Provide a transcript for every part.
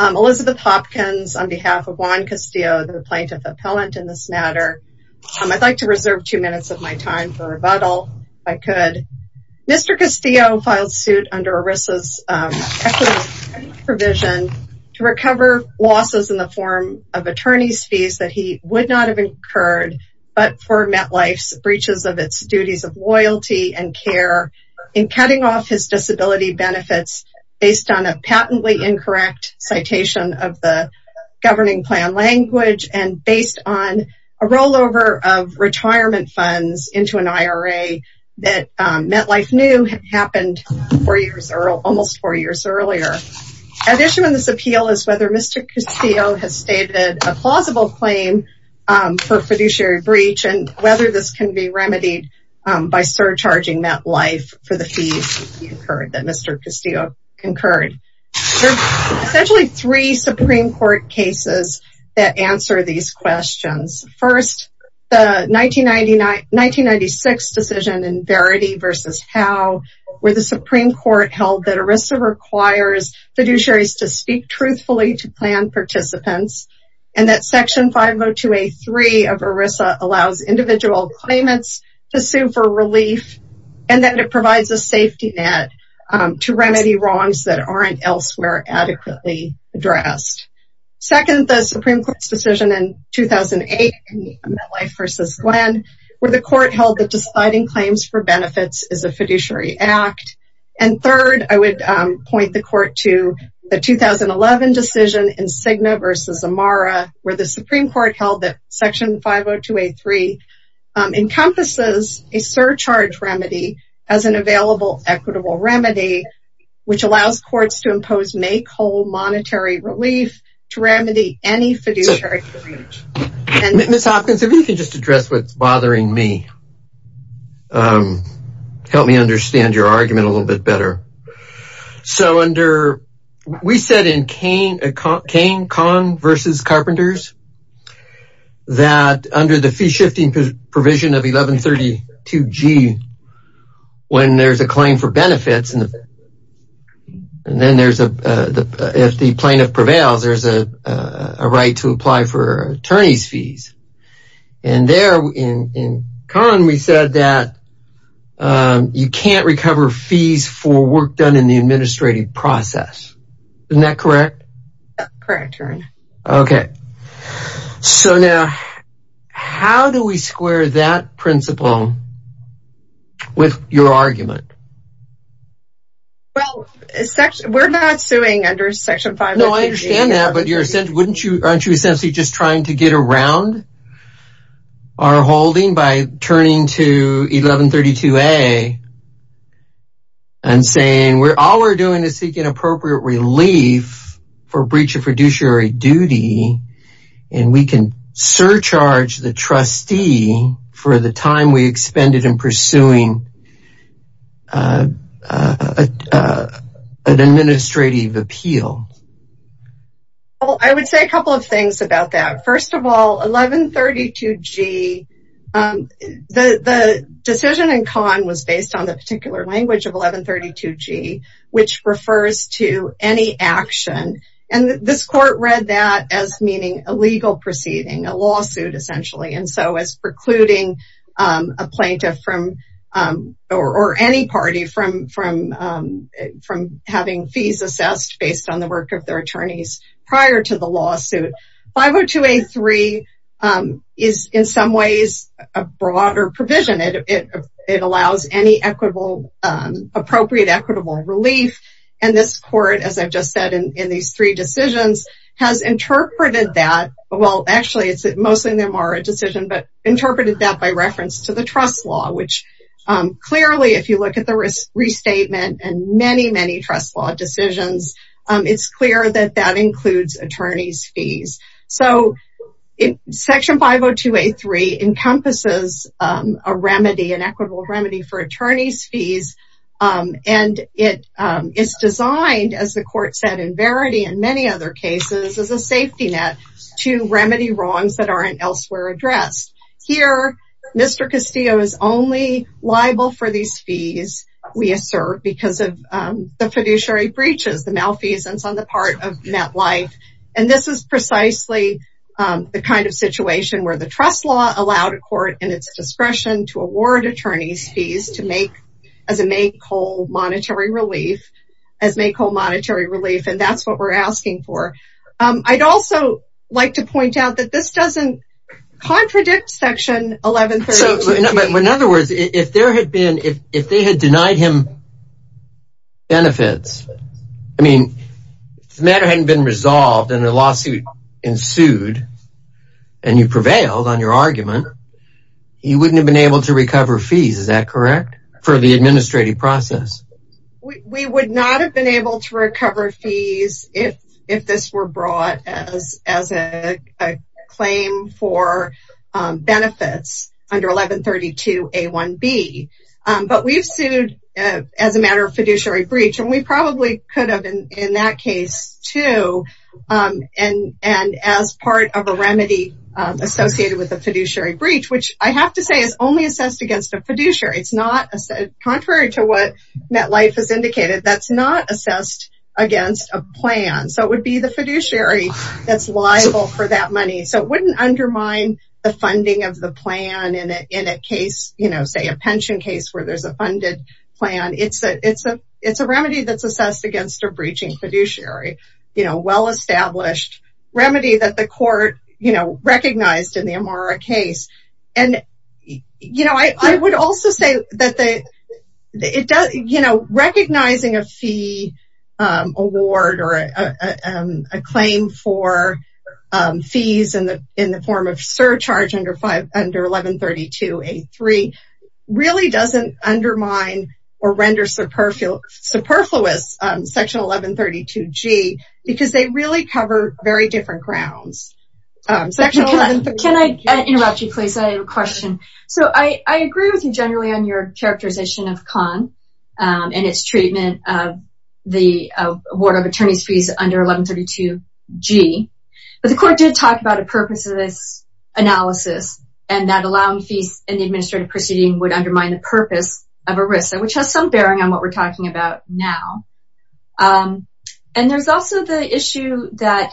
Elizabeth Hopkins on behalf of Juan Castillo, the Plaintiff Appellant in this matter. I'd like to reserve two minutes of my time for rebuttal, if I could. Mr. Castillo filed suit under ERISA's equity provision to recover losses in the form of attorney's fees that he would not have incurred but for MetLife's breaches of its duties of loyalty and care in cutting off his disability benefits based on a patently incorrect citation of the Governing Plan language and based on a rollover of retirement funds into an IRA that MetLife knew happened almost four years earlier. At issue in this appeal is whether Mr. Castillo has stated a plausible claim for fiduciary breach and whether this can be remedied by surcharging MetLife for the fees that Mr. Castillo incurred. There are essentially three Supreme Court cases that answer these questions. First, the 1996 decision in Verity v. Howe where the Supreme Court held that ERISA requires fiduciaries to speak truthfully to plan participants and that Section 502A3 of ERISA allows individual claimants to sue for relief and that it provides a safety net to remedy wrongs that aren't elsewhere adequately addressed. Second, the Supreme Court's decision in 2008 in MetLife v. Glenn where the court held that citing claims for benefits is a fiduciary act. And third, I would point the court to the 2011 decision in Cigna v. Amara where the Supreme Court held that Section 502A3 encompasses a surcharge remedy as an available equitable remedy which allows courts to impose make-whole monetary relief to remedy any fiduciary breach. Ms. Hopkins, if you could just address what's bothering me. Help me understand your argument a little bit better. So under, we said in Cain v. Carpenters that under the fee-shifting provision of 1132G, when there's a claim for benefits, if the plaintiff prevails, there's a right to apply for attorney's fees. And there in Cain, we said that you can't recover fees for work done in the administrative process. Isn't that correct? Correct, Your Honor. Okay. So now, how do we square that principle with your argument? Well, we're not suing under Section 502G. No, I understand that, but aren't you essentially just trying to get around our holding by turning to 1132A and saying all we're doing is seeking appropriate relief for breach of fiduciary duty and we can surcharge the trustee for the time we expended in pursuing an administrative appeal? Well, I would say a couple of things about that. First of all, 1132G, the decision in Cain was based on the particular language of 1132G, which refers to any action. And this court read that as meaning a legal proceeding, a lawsuit essentially, and so as precluding a plaintiff or any party from having fees assessed based on the work of their attorneys prior to the lawsuit. 502A3 is in some ways a broader provision. It allows any appropriate equitable relief. And this court, as I've just said in these three decisions, has interpreted that. Well, actually, it's mostly a decision, but interpreted that by reference to the trust law, which clearly, if you look at the restatement and many, many trust law decisions, it's clear that that includes attorney's fees. So Section 502A3 encompasses a remedy, an equitable remedy for attorney's fees, and it is designed, as the court said in Verity and many other cases, as a safety net to remedy wrongs that aren't elsewhere addressed. Here, Mr. Castillo is only liable for these fees, we assert, because of the fiduciary breaches, the malfeasance on the part of MetLife. And this is precisely the kind of situation where the trust law allowed a court, in its discretion, to award attorney's fees to make, as a make-whole monetary relief, as make-whole monetary relief, and that's what we're asking for. I'd also like to point out that this doesn't contradict Section 1132B. In other words, if there had been, if they had denied him benefits, I mean, if the matter hadn't been resolved and a lawsuit ensued, and you prevailed on your argument, he wouldn't have been able to recover fees, is that correct, for the administrative process? We would not have been able to recover fees if this were brought as a claim for benefits under 1132A1B. But we've sued as a matter of fiduciary breach, and we probably could have in that case too, and as part of a remedy associated with a fiduciary breach, which I have to say is only assessed against a fiduciary. It's not, contrary to what MetLife has indicated, that's not assessed against a plan. So it would be the fiduciary that's liable for that money. So it wouldn't undermine the funding of the plan in a case, you know, say a pension case where there's a funded plan. It's a remedy that's assessed against a breaching fiduciary. You know, well-established remedy that the court, you know, recognized in the Amara case. And, you know, I would also say that, you know, recognizing a fee award or a claim for fees in the form of surcharge under 1132A3 really doesn't undermine or render superfluous Section 1132G because they really cover very different grounds. Can I interrupt you please? I have a question. So I agree with you generally on your characterization of CON and its treatment of the award of attorney's fees under 1132G. But the court did talk about a purpose of this analysis and that allowing fees in the administrative proceeding would undermine the purpose of a risk, which has some bearing on what we're talking about now. And there's also the issue that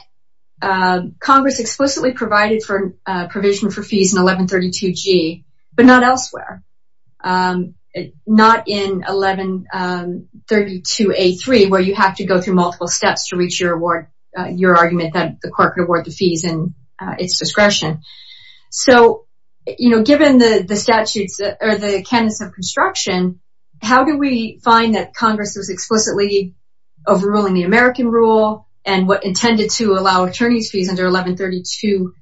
Congress explicitly provided for provision for fees in 1132G, but not elsewhere. Not in 1132A3 where you have to go through multiple steps to reach your award, your argument that the court could award the fees in its discretion. So, you know, given the statutes or the candidates of construction, how do we find that Congress is explicitly overruling the American rule and what intended to allow attorney's fees under 1132A3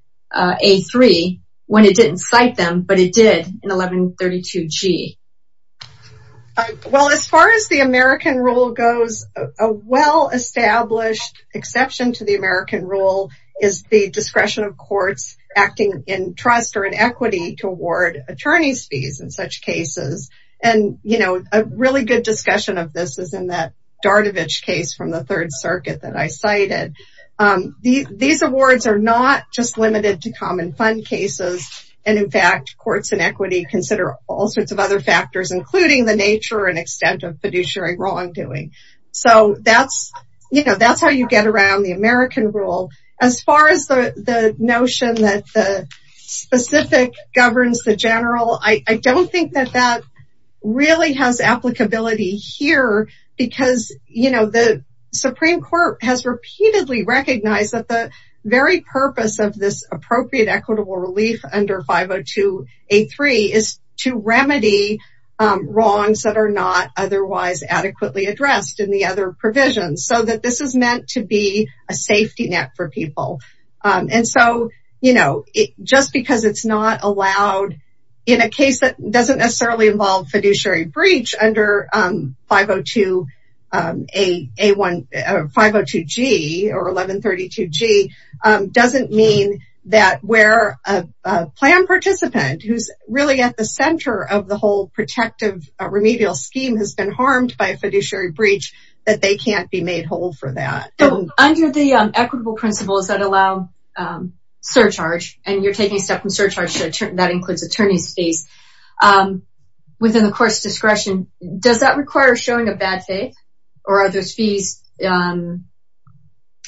when it didn't cite them, but it did in 1132G? Well, as far as the American rule goes, a well-established exception to the American rule is the discretion of courts acting in trust or in equity to award attorney's fees in such cases. And, you know, a really good discussion of this is in that Dardovich case from the Third Circuit that I cited. These awards are not just limited to common fund cases. And in fact, courts in equity consider all sorts of other factors, including the nature and extent of fiduciary wrongdoing. So that's, you know, that's how you get around the American rule. As far as the notion that the specific governs the general, I don't think that that really has applicability here. Because, you know, the Supreme Court has repeatedly recognized that the very purpose of this appropriate equitable relief under 502A3 is to remedy wrongs that are not otherwise adequately addressed in the other provisions. So that this is meant to be a safety net for people. And so, you know, just because it's not allowed in a case that doesn't necessarily involve fiduciary breach under 502G or 1132G doesn't mean that where a plan participant who's really at the center of the whole protective remedial scheme has been harmed by a fiduciary breach that they can't be made whole for that. So under the equitable principles that allow surcharge, and you're taking stuff from surcharge, that includes attorney's fees, within the court's discretion, does that require showing a bad faith? Or are those fees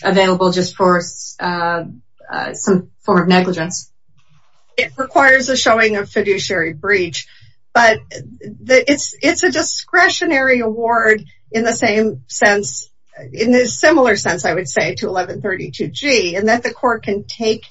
available just for some form of negligence? It requires a showing of fiduciary breach. But it's a discretionary award in the same sense, in a similar sense, I would say, to 1132G. And that the court can take,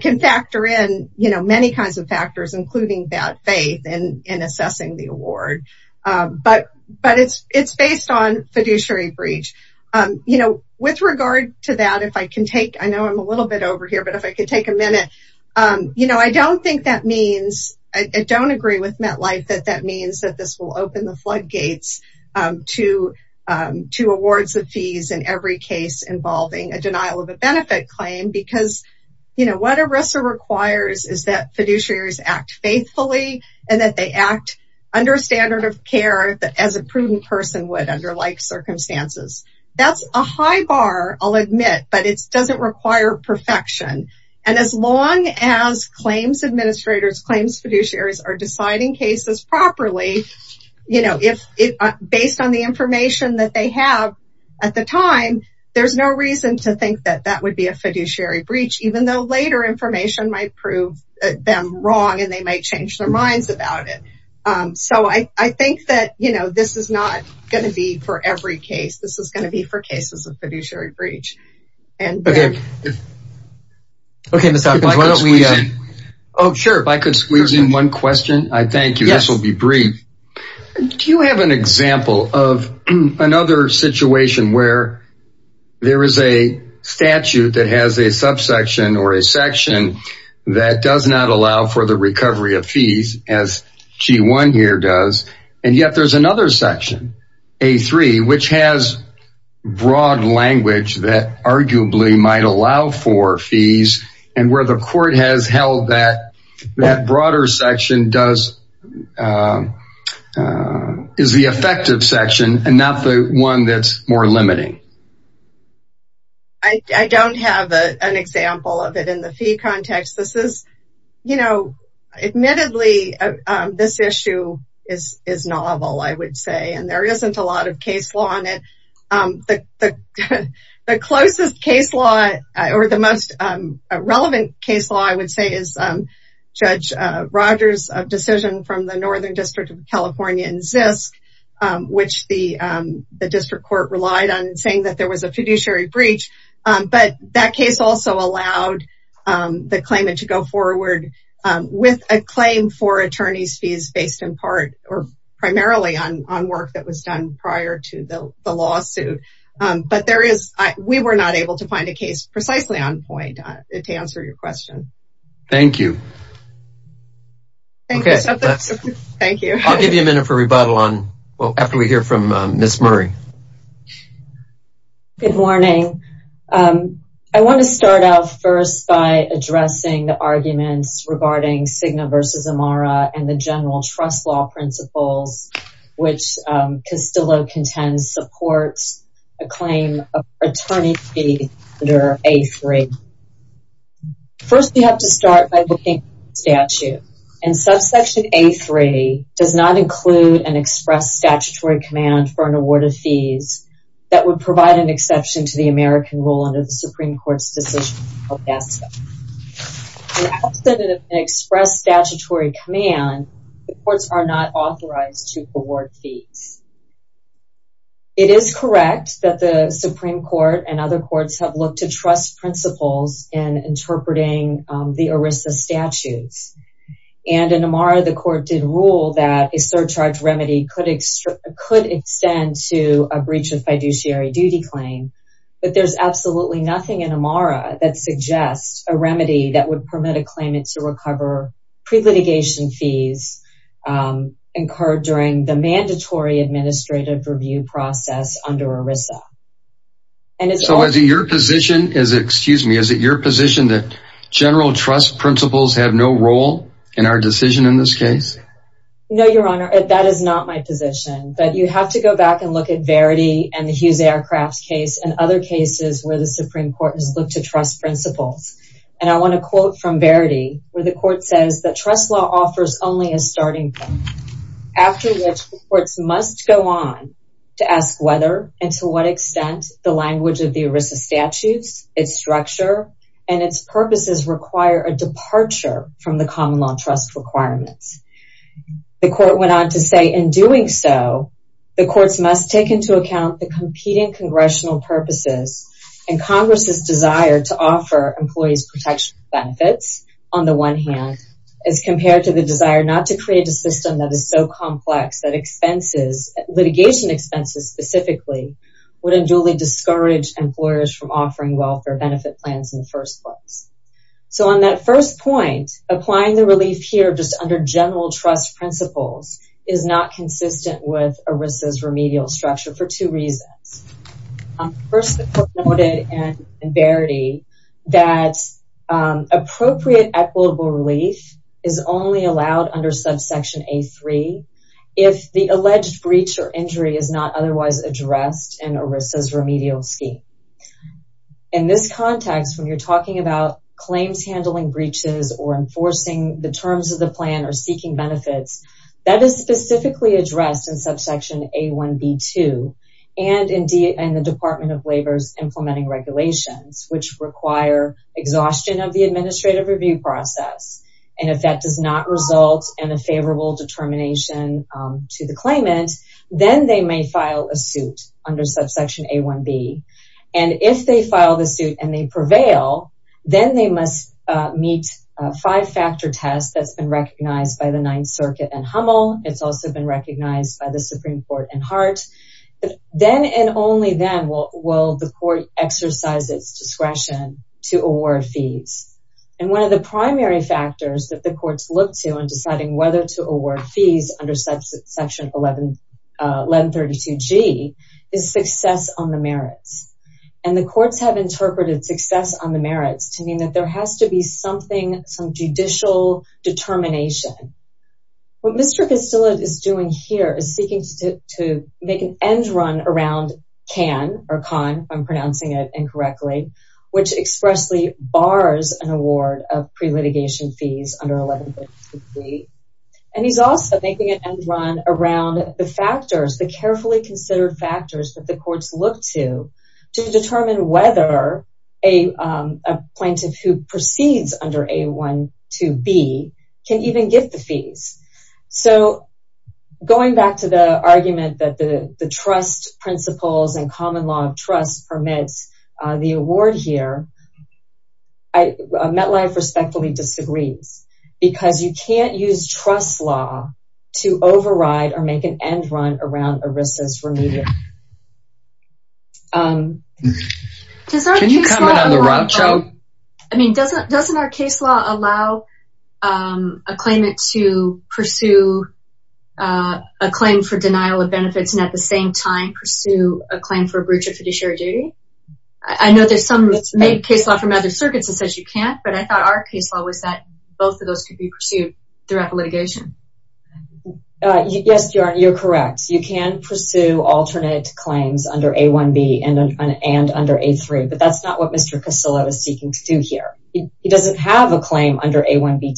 can factor in, you know, many kinds of factors, including bad faith in assessing the award. But it's based on fiduciary breach. With regard to that, if I can take, I know I'm a little bit over here, but if I could take a minute. You know, I don't think that means, I don't agree with MetLife that that means that this will open the floodgates to awards of fees in every case involving a denial of a benefit claim. Because, you know, what ERISA requires is that fiduciaries act faithfully, and that they act under a standard of care that as a prudent person would under like circumstances. That's a high bar, I'll admit, but it doesn't require perfection. And as long as claims administrators, claims fiduciaries are deciding cases properly, you know, based on the information that they have at the time, there's no reason to think that that would be a fiduciary breach. Even though later information might prove them wrong, and they might change their minds about it. So I think that, you know, this is not going to be for every case. This is going to be for cases of fiduciary breach. Okay. Okay. Oh, sure. If I could squeeze in one question. I thank you. This will be brief. Do you have an example of another situation where there is a statute that has a subsection or a section that does not allow for the recovery of fees as G1 here does. And yet there's another section, A3, which has broad language that arguably might allow for fees, and where the court has held that that broader section is the effective section and not the one that's more limiting. I don't have an example of it in the fee context. This is, you know, admittedly, this issue is novel, I would say, and there isn't a lot of case law on it. The closest case law or the most relevant case law, I would say, is Judge Rogers' decision from the Northern District of California in Zisk, which the district court relied on saying that there was a fiduciary breach. But that case also allowed the claimant to go forward with a claim for attorney's fees based in part or primarily on work that was done prior to the lawsuit. But we were not able to find a case precisely on point to answer your question. Thank you. Thank you. I'll give you a minute for rebuttal after we hear from Ms. Murray. Good morning. I want to start out first by addressing the arguments regarding Cigna v. Amara and the general trust law principles, which Costillo contends supports a claim of attorney fee under A3. First, we have to start by looking at the statute. And subsection A3 does not include an express statutory command for an award of fees that would provide an exception to the American rule under the Supreme Court's decision of NASA. In the absence of an express statutory command, the courts are not authorized to award fees. It is correct that the Supreme Court and other courts have looked to trust principles in interpreting the ERISA statutes. And in Amara, the court did rule that a surcharge remedy could extend to a breach of fiduciary duty claim. But there's absolutely nothing in Amara that suggests a remedy that would permit a claimant to recover pre-litigation fees incurred during the mandatory administrative review process under ERISA. So is it your position that general trust principles have no role in our decision in this case? No, Your Honor. That is not my position. But you have to go back and look at Verity and the Hughes Aircraft case and other cases where the Supreme Court has looked to trust principles. And I want to quote from Verity where the court says that trust law offers only a starting point. After which, courts must go on to ask whether and to what extent the language of the ERISA statutes, its structure, and its purposes require a departure from the common law trust requirements. The court went on to say, in doing so, the courts must take into account the competing congressional purposes and Congress's desire to offer employees protection benefits on the one hand, as compared to the desire not to create a system that is so complex that litigation expenses specifically would unduly discourage employers from offering welfare benefit plans in the first place. So on that first point, applying the relief here just under general trust principles is not consistent with ERISA's remedial structure for two reasons. First, the court noted in Verity that appropriate equitable relief is only allowed under subsection A3 if the alleged breach or injury is not otherwise addressed in ERISA's remedial scheme. In this context, when you're talking about claims handling breaches or enforcing the terms of the plan or seeking benefits, that is specifically addressed in subsection A1B2 and in the Department of Labor's implementing regulations, which require exhaustion of the administrative review process. And if that does not result in a favorable determination to the claimant, then they may file a suit under subsection A1B. And if they file the suit and they prevail, then they must meet a five-factor test that's been recognized by the Ninth Circuit and Hummel. It's also been recognized by the Supreme Court and Hart. Then and only then will the court exercise its discretion to award fees. And one of the primary factors that the courts look to in deciding whether to award fees under subsection 1132G is success on the merits. And the courts have interpreted success on the merits to mean that there has to be something, some judicial determination. What Mr. Castillo is doing here is seeking to make an end run around CAN or CON, if I'm pronouncing it incorrectly, which expressly bars an award of pre-litigation fees under 1132G. And he's also making an end run around the factors, the carefully considered factors that the courts look to, to determine whether a plaintiff who proceeds under A12B can even get the fees. So, going back to the argument that the trust principles and common law of trust permits the award here, MetLife respectfully disagrees, because you can't use trust law to override or make an end run around ERISA's remediation. Can you comment on the rough joke? I mean, doesn't our case law allow a claimant to pursue a claim for denial of benefits, and at the same time pursue a claim for a breach of fiduciary duty? I know there's some case law from other circuits that says you can't, but I thought our case law was that both of those could be pursued throughout the litigation. Yes, you're correct. You can pursue alternate claims under A1B and under A3, but that's not what Mr. Casillo is seeking to do here. He doesn't have a claim under A1B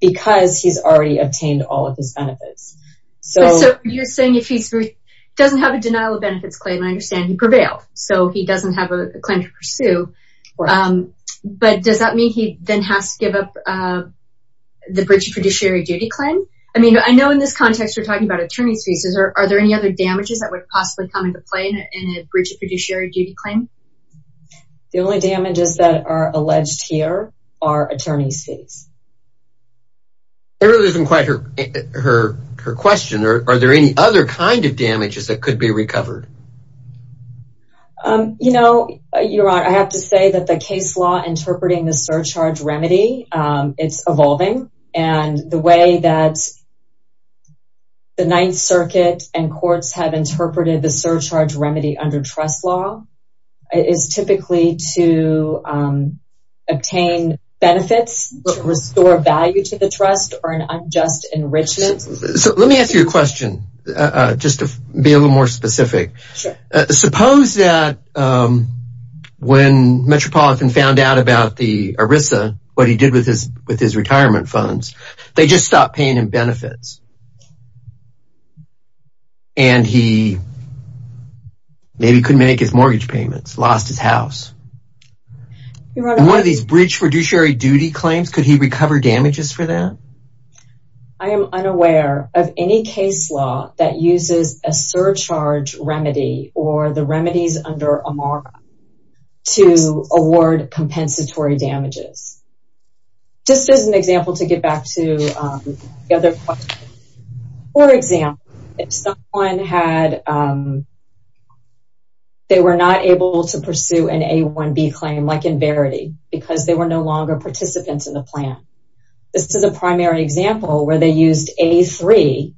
because he's already obtained all of his benefits. So, you're saying he doesn't have a denial of benefits claim, and I understand he prevailed, so he doesn't have a claim to pursue, but does that mean he then has to give up the breach of fiduciary duty claim? I mean, I know in this context we're talking about attorney's fees. Are there any other damages that would possibly come into play in a breach of fiduciary duty claim? The only damages that are alleged here are attorney's fees. That really isn't quite her question. Are there any other kind of damages that could be recovered? You know, Your Honor, I have to say that the case law interpreting the surcharge remedy, it's evolving, and the way that the Ninth Circuit and courts have interpreted the surcharge remedy under trust law is typically to obtain benefits to restore value to the trust or an unjust enrichment. So, let me ask you a question just to be a little more specific. Sure. Suppose that when Metropolitan found out about the ERISA, what he did with his retirement funds, they just stopped paying him benefits, and he maybe couldn't make his mortgage payments, lost his house. In one of these breach fiduciary duty claims, could he recover damages for that? I am unaware of any case law that uses a surcharge remedy or the remedies under AMARA to award compensatory damages. Just as an example to get back to the other question. For example, if someone had, they were not able to pursue an A1B claim like in Verity, because they were no longer participants in the plan. This is a primary example where they used A3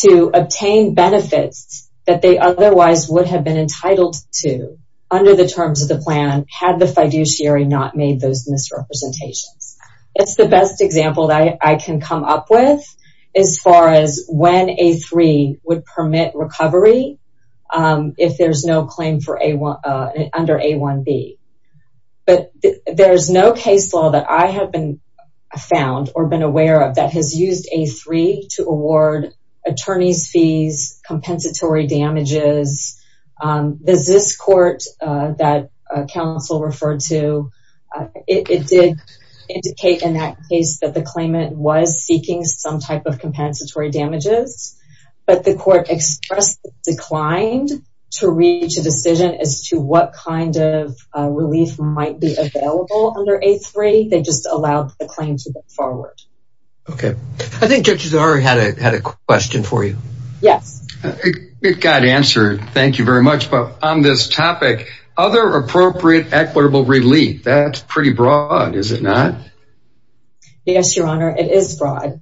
to obtain benefits that they otherwise would have been entitled to under the terms of the plan had the fiduciary not made those misrepresentations. It's the best example that I can come up with as far as when A3 would permit recovery if there's no claim under A1B. But there's no case law that I have been found or been aware of that has used A3 to award attorney's fees, compensatory damages. This court that counsel referred to, it did indicate in that case that the claimant was seeking some type of compensatory damages, but the court expressed it declined to reach a decision as to what kind of relief might be available under A3. They just allowed the claim to go forward. Okay. I think Judge Zari had a question for you. Yes. It got answered. Thank you very much. But on this topic, other appropriate equitable relief, that's pretty broad, is it not? Yes, Your Honor, it is broad.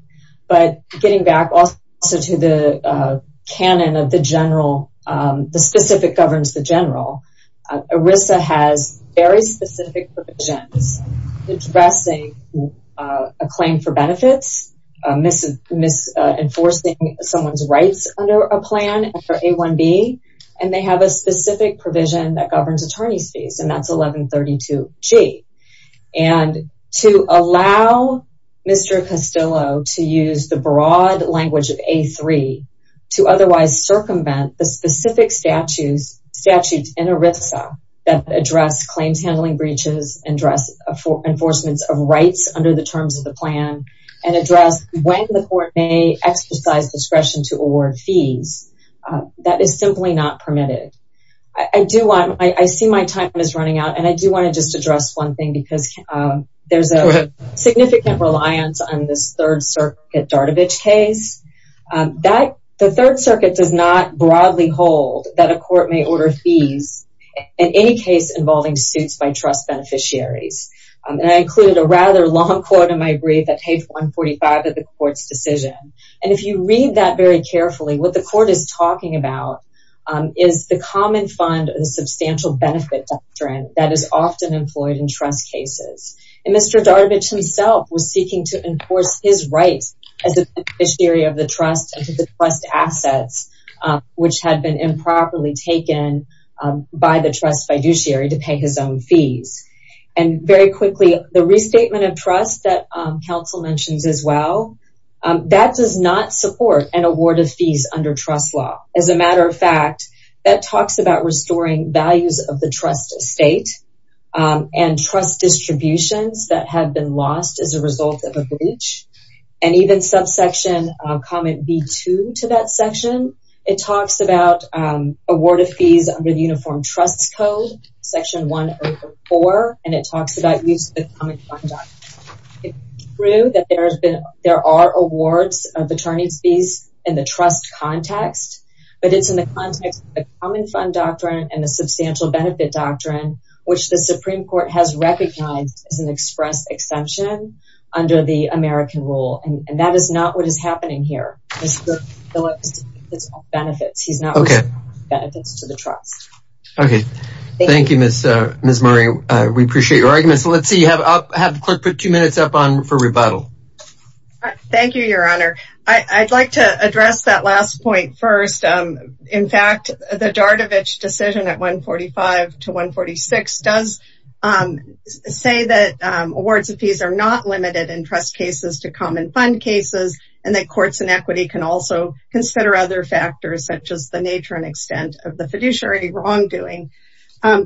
But getting back also to the canon of the general, the specific governs the general, ERISA has very specific provisions addressing a claim for benefits, enforcing someone's rights under a plan for A1B, and they have a specific provision that governs attorney's fees, and that's 1132G. And to allow Mr. Castillo to use the broad language of A3 to otherwise circumvent the specific statutes in ERISA that address claims handling breaches, and address enforcements of rights under the terms of the plan, and address when the court may exercise discretion to award fees, that is simply not permitted. I see my time is running out, and I do want to just address one thing, because there's a significant reliance on this Third Circuit Dardovich case. The Third Circuit does not broadly hold that a court may order fees in any case involving suits by trust beneficiaries. And I included a rather long quote in my brief at page 145 of the court's decision. And if you read that very carefully, what the court is talking about is the common fund of the substantial benefit doctrine that is often employed in trust cases. And Mr. Dardovich himself was seeking to enforce his rights as a beneficiary of the trust and to the trust assets, which had been improperly taken by the trust fiduciary to pay his own fees. And very quickly, the restatement of trust that counsel mentions as well, that does not support an award of fees under trust law. As a matter of fact, that talks about restoring values of the trust estate, and trust distributions that have been lost as a result of a breach, and even subsection comment B2 to that section, it talks about award of fees under the Uniform Trust Code, Section 104, and it talks about use of the common fund doctrine. It's true that there are awards of attorney's fees in the trust context, but it's in the context of the common fund doctrine and the substantial benefit doctrine, which the Supreme Court has recognized as an express exemption under the American rule. And that is not what is happening here. Mr. Phillips benefits. He's not wishing benefits to the trust. Okay. Thank you, Ms. Murray. We appreciate your argument. So let's see. I'll have the clerk put two minutes up for rebuttal. Thank you, Your Honor. I'd like to address that last point first. In fact, the Dardovich decision at 145 to 146 does say that awards of fees are not limited in trust cases to common fund cases and that courts and equity can also consider other factors, such as the nature and extent of the fiduciary wrongdoing.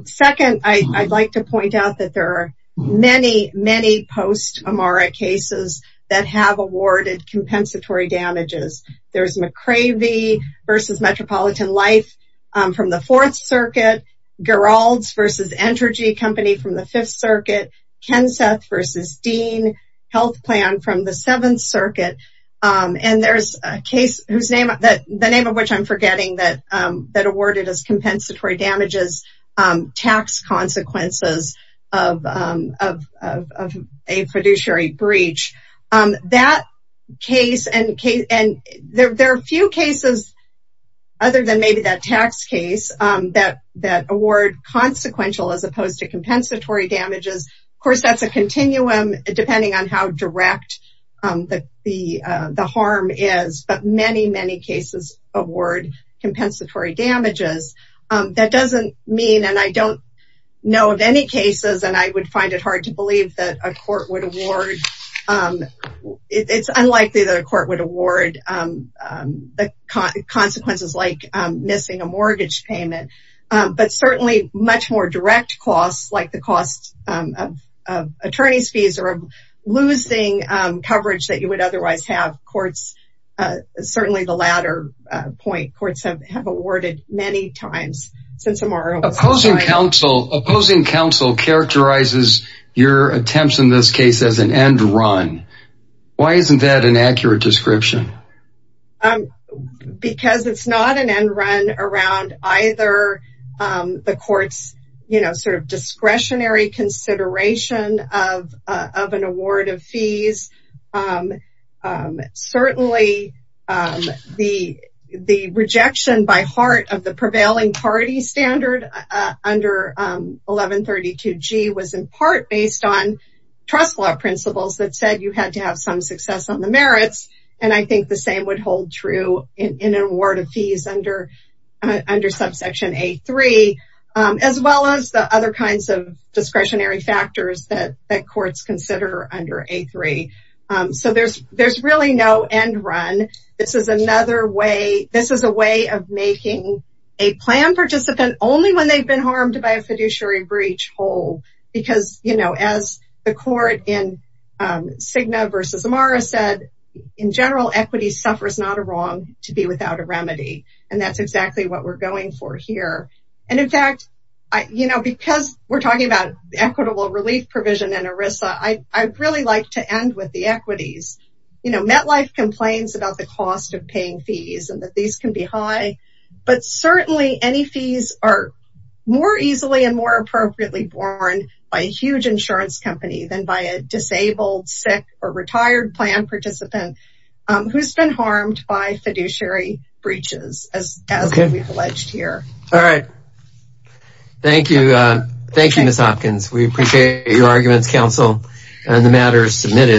Second, I'd like to point out that there are many, many post-Amara cases that have awarded compensatory damages. There's McCravey v. Metropolitan Life from the Fourth Circuit, Geralds v. Entergy Company from the Fifth Circuit, Kenseth v. Dean Health Plan from the Seventh Circuit, and there's a case whose name of which I'm forgetting that awarded as compensatory damages, tax consequences of a fiduciary breach. That case and there are a few cases other than maybe that tax case that award consequential as opposed to compensatory damages. Of course, that's a continuum depending on how direct the harm is, but many, many cases award compensatory damages. That doesn't mean, and I don't know of any cases, and I would find it hard to believe that a court would award. It's unlikely that a court would award the consequences like missing a mortgage payment, but certainly much more direct costs like the cost of attorney's fees or losing coverage that you would otherwise have. Courts, certainly the latter point, courts have awarded many times since Amara was decided. Opposing counsel characterizes your attempts in this case as an end run. Why isn't that an accurate description? Because it's not an end run around either the court's discretionary consideration of an award of fees. Certainly, the rejection by heart of the prevailing party standard under 1132G was in part based on trust law principles that said you had to have some success on the merits, and I think the same would hold true in an award of fees under subsection A3, as well as the other kinds of discretionary factors that courts consider under A3. So there's really no end run. This is a way of making a plan participant only when they've been harmed by a fiduciary breach hold because as the court in Cigna versus Amara said, in general, equity suffers not a wrong to be without a remedy, and that's exactly what we're going for here. In fact, because we're talking about equitable relief provision in ERISA, I'd really like to end with the equities. MetLife complains about the cost of paying fees and that these can be high, but certainly any fees are more easily and more appropriately borne by a huge insurance company than by a disabled, sick, or retired plan participant who's been harmed by fiduciary breaches, as we've alleged here. All right. Thank you. Thank you, Ms. Hopkins. We appreciate your arguments, counsel, and the matters submitted.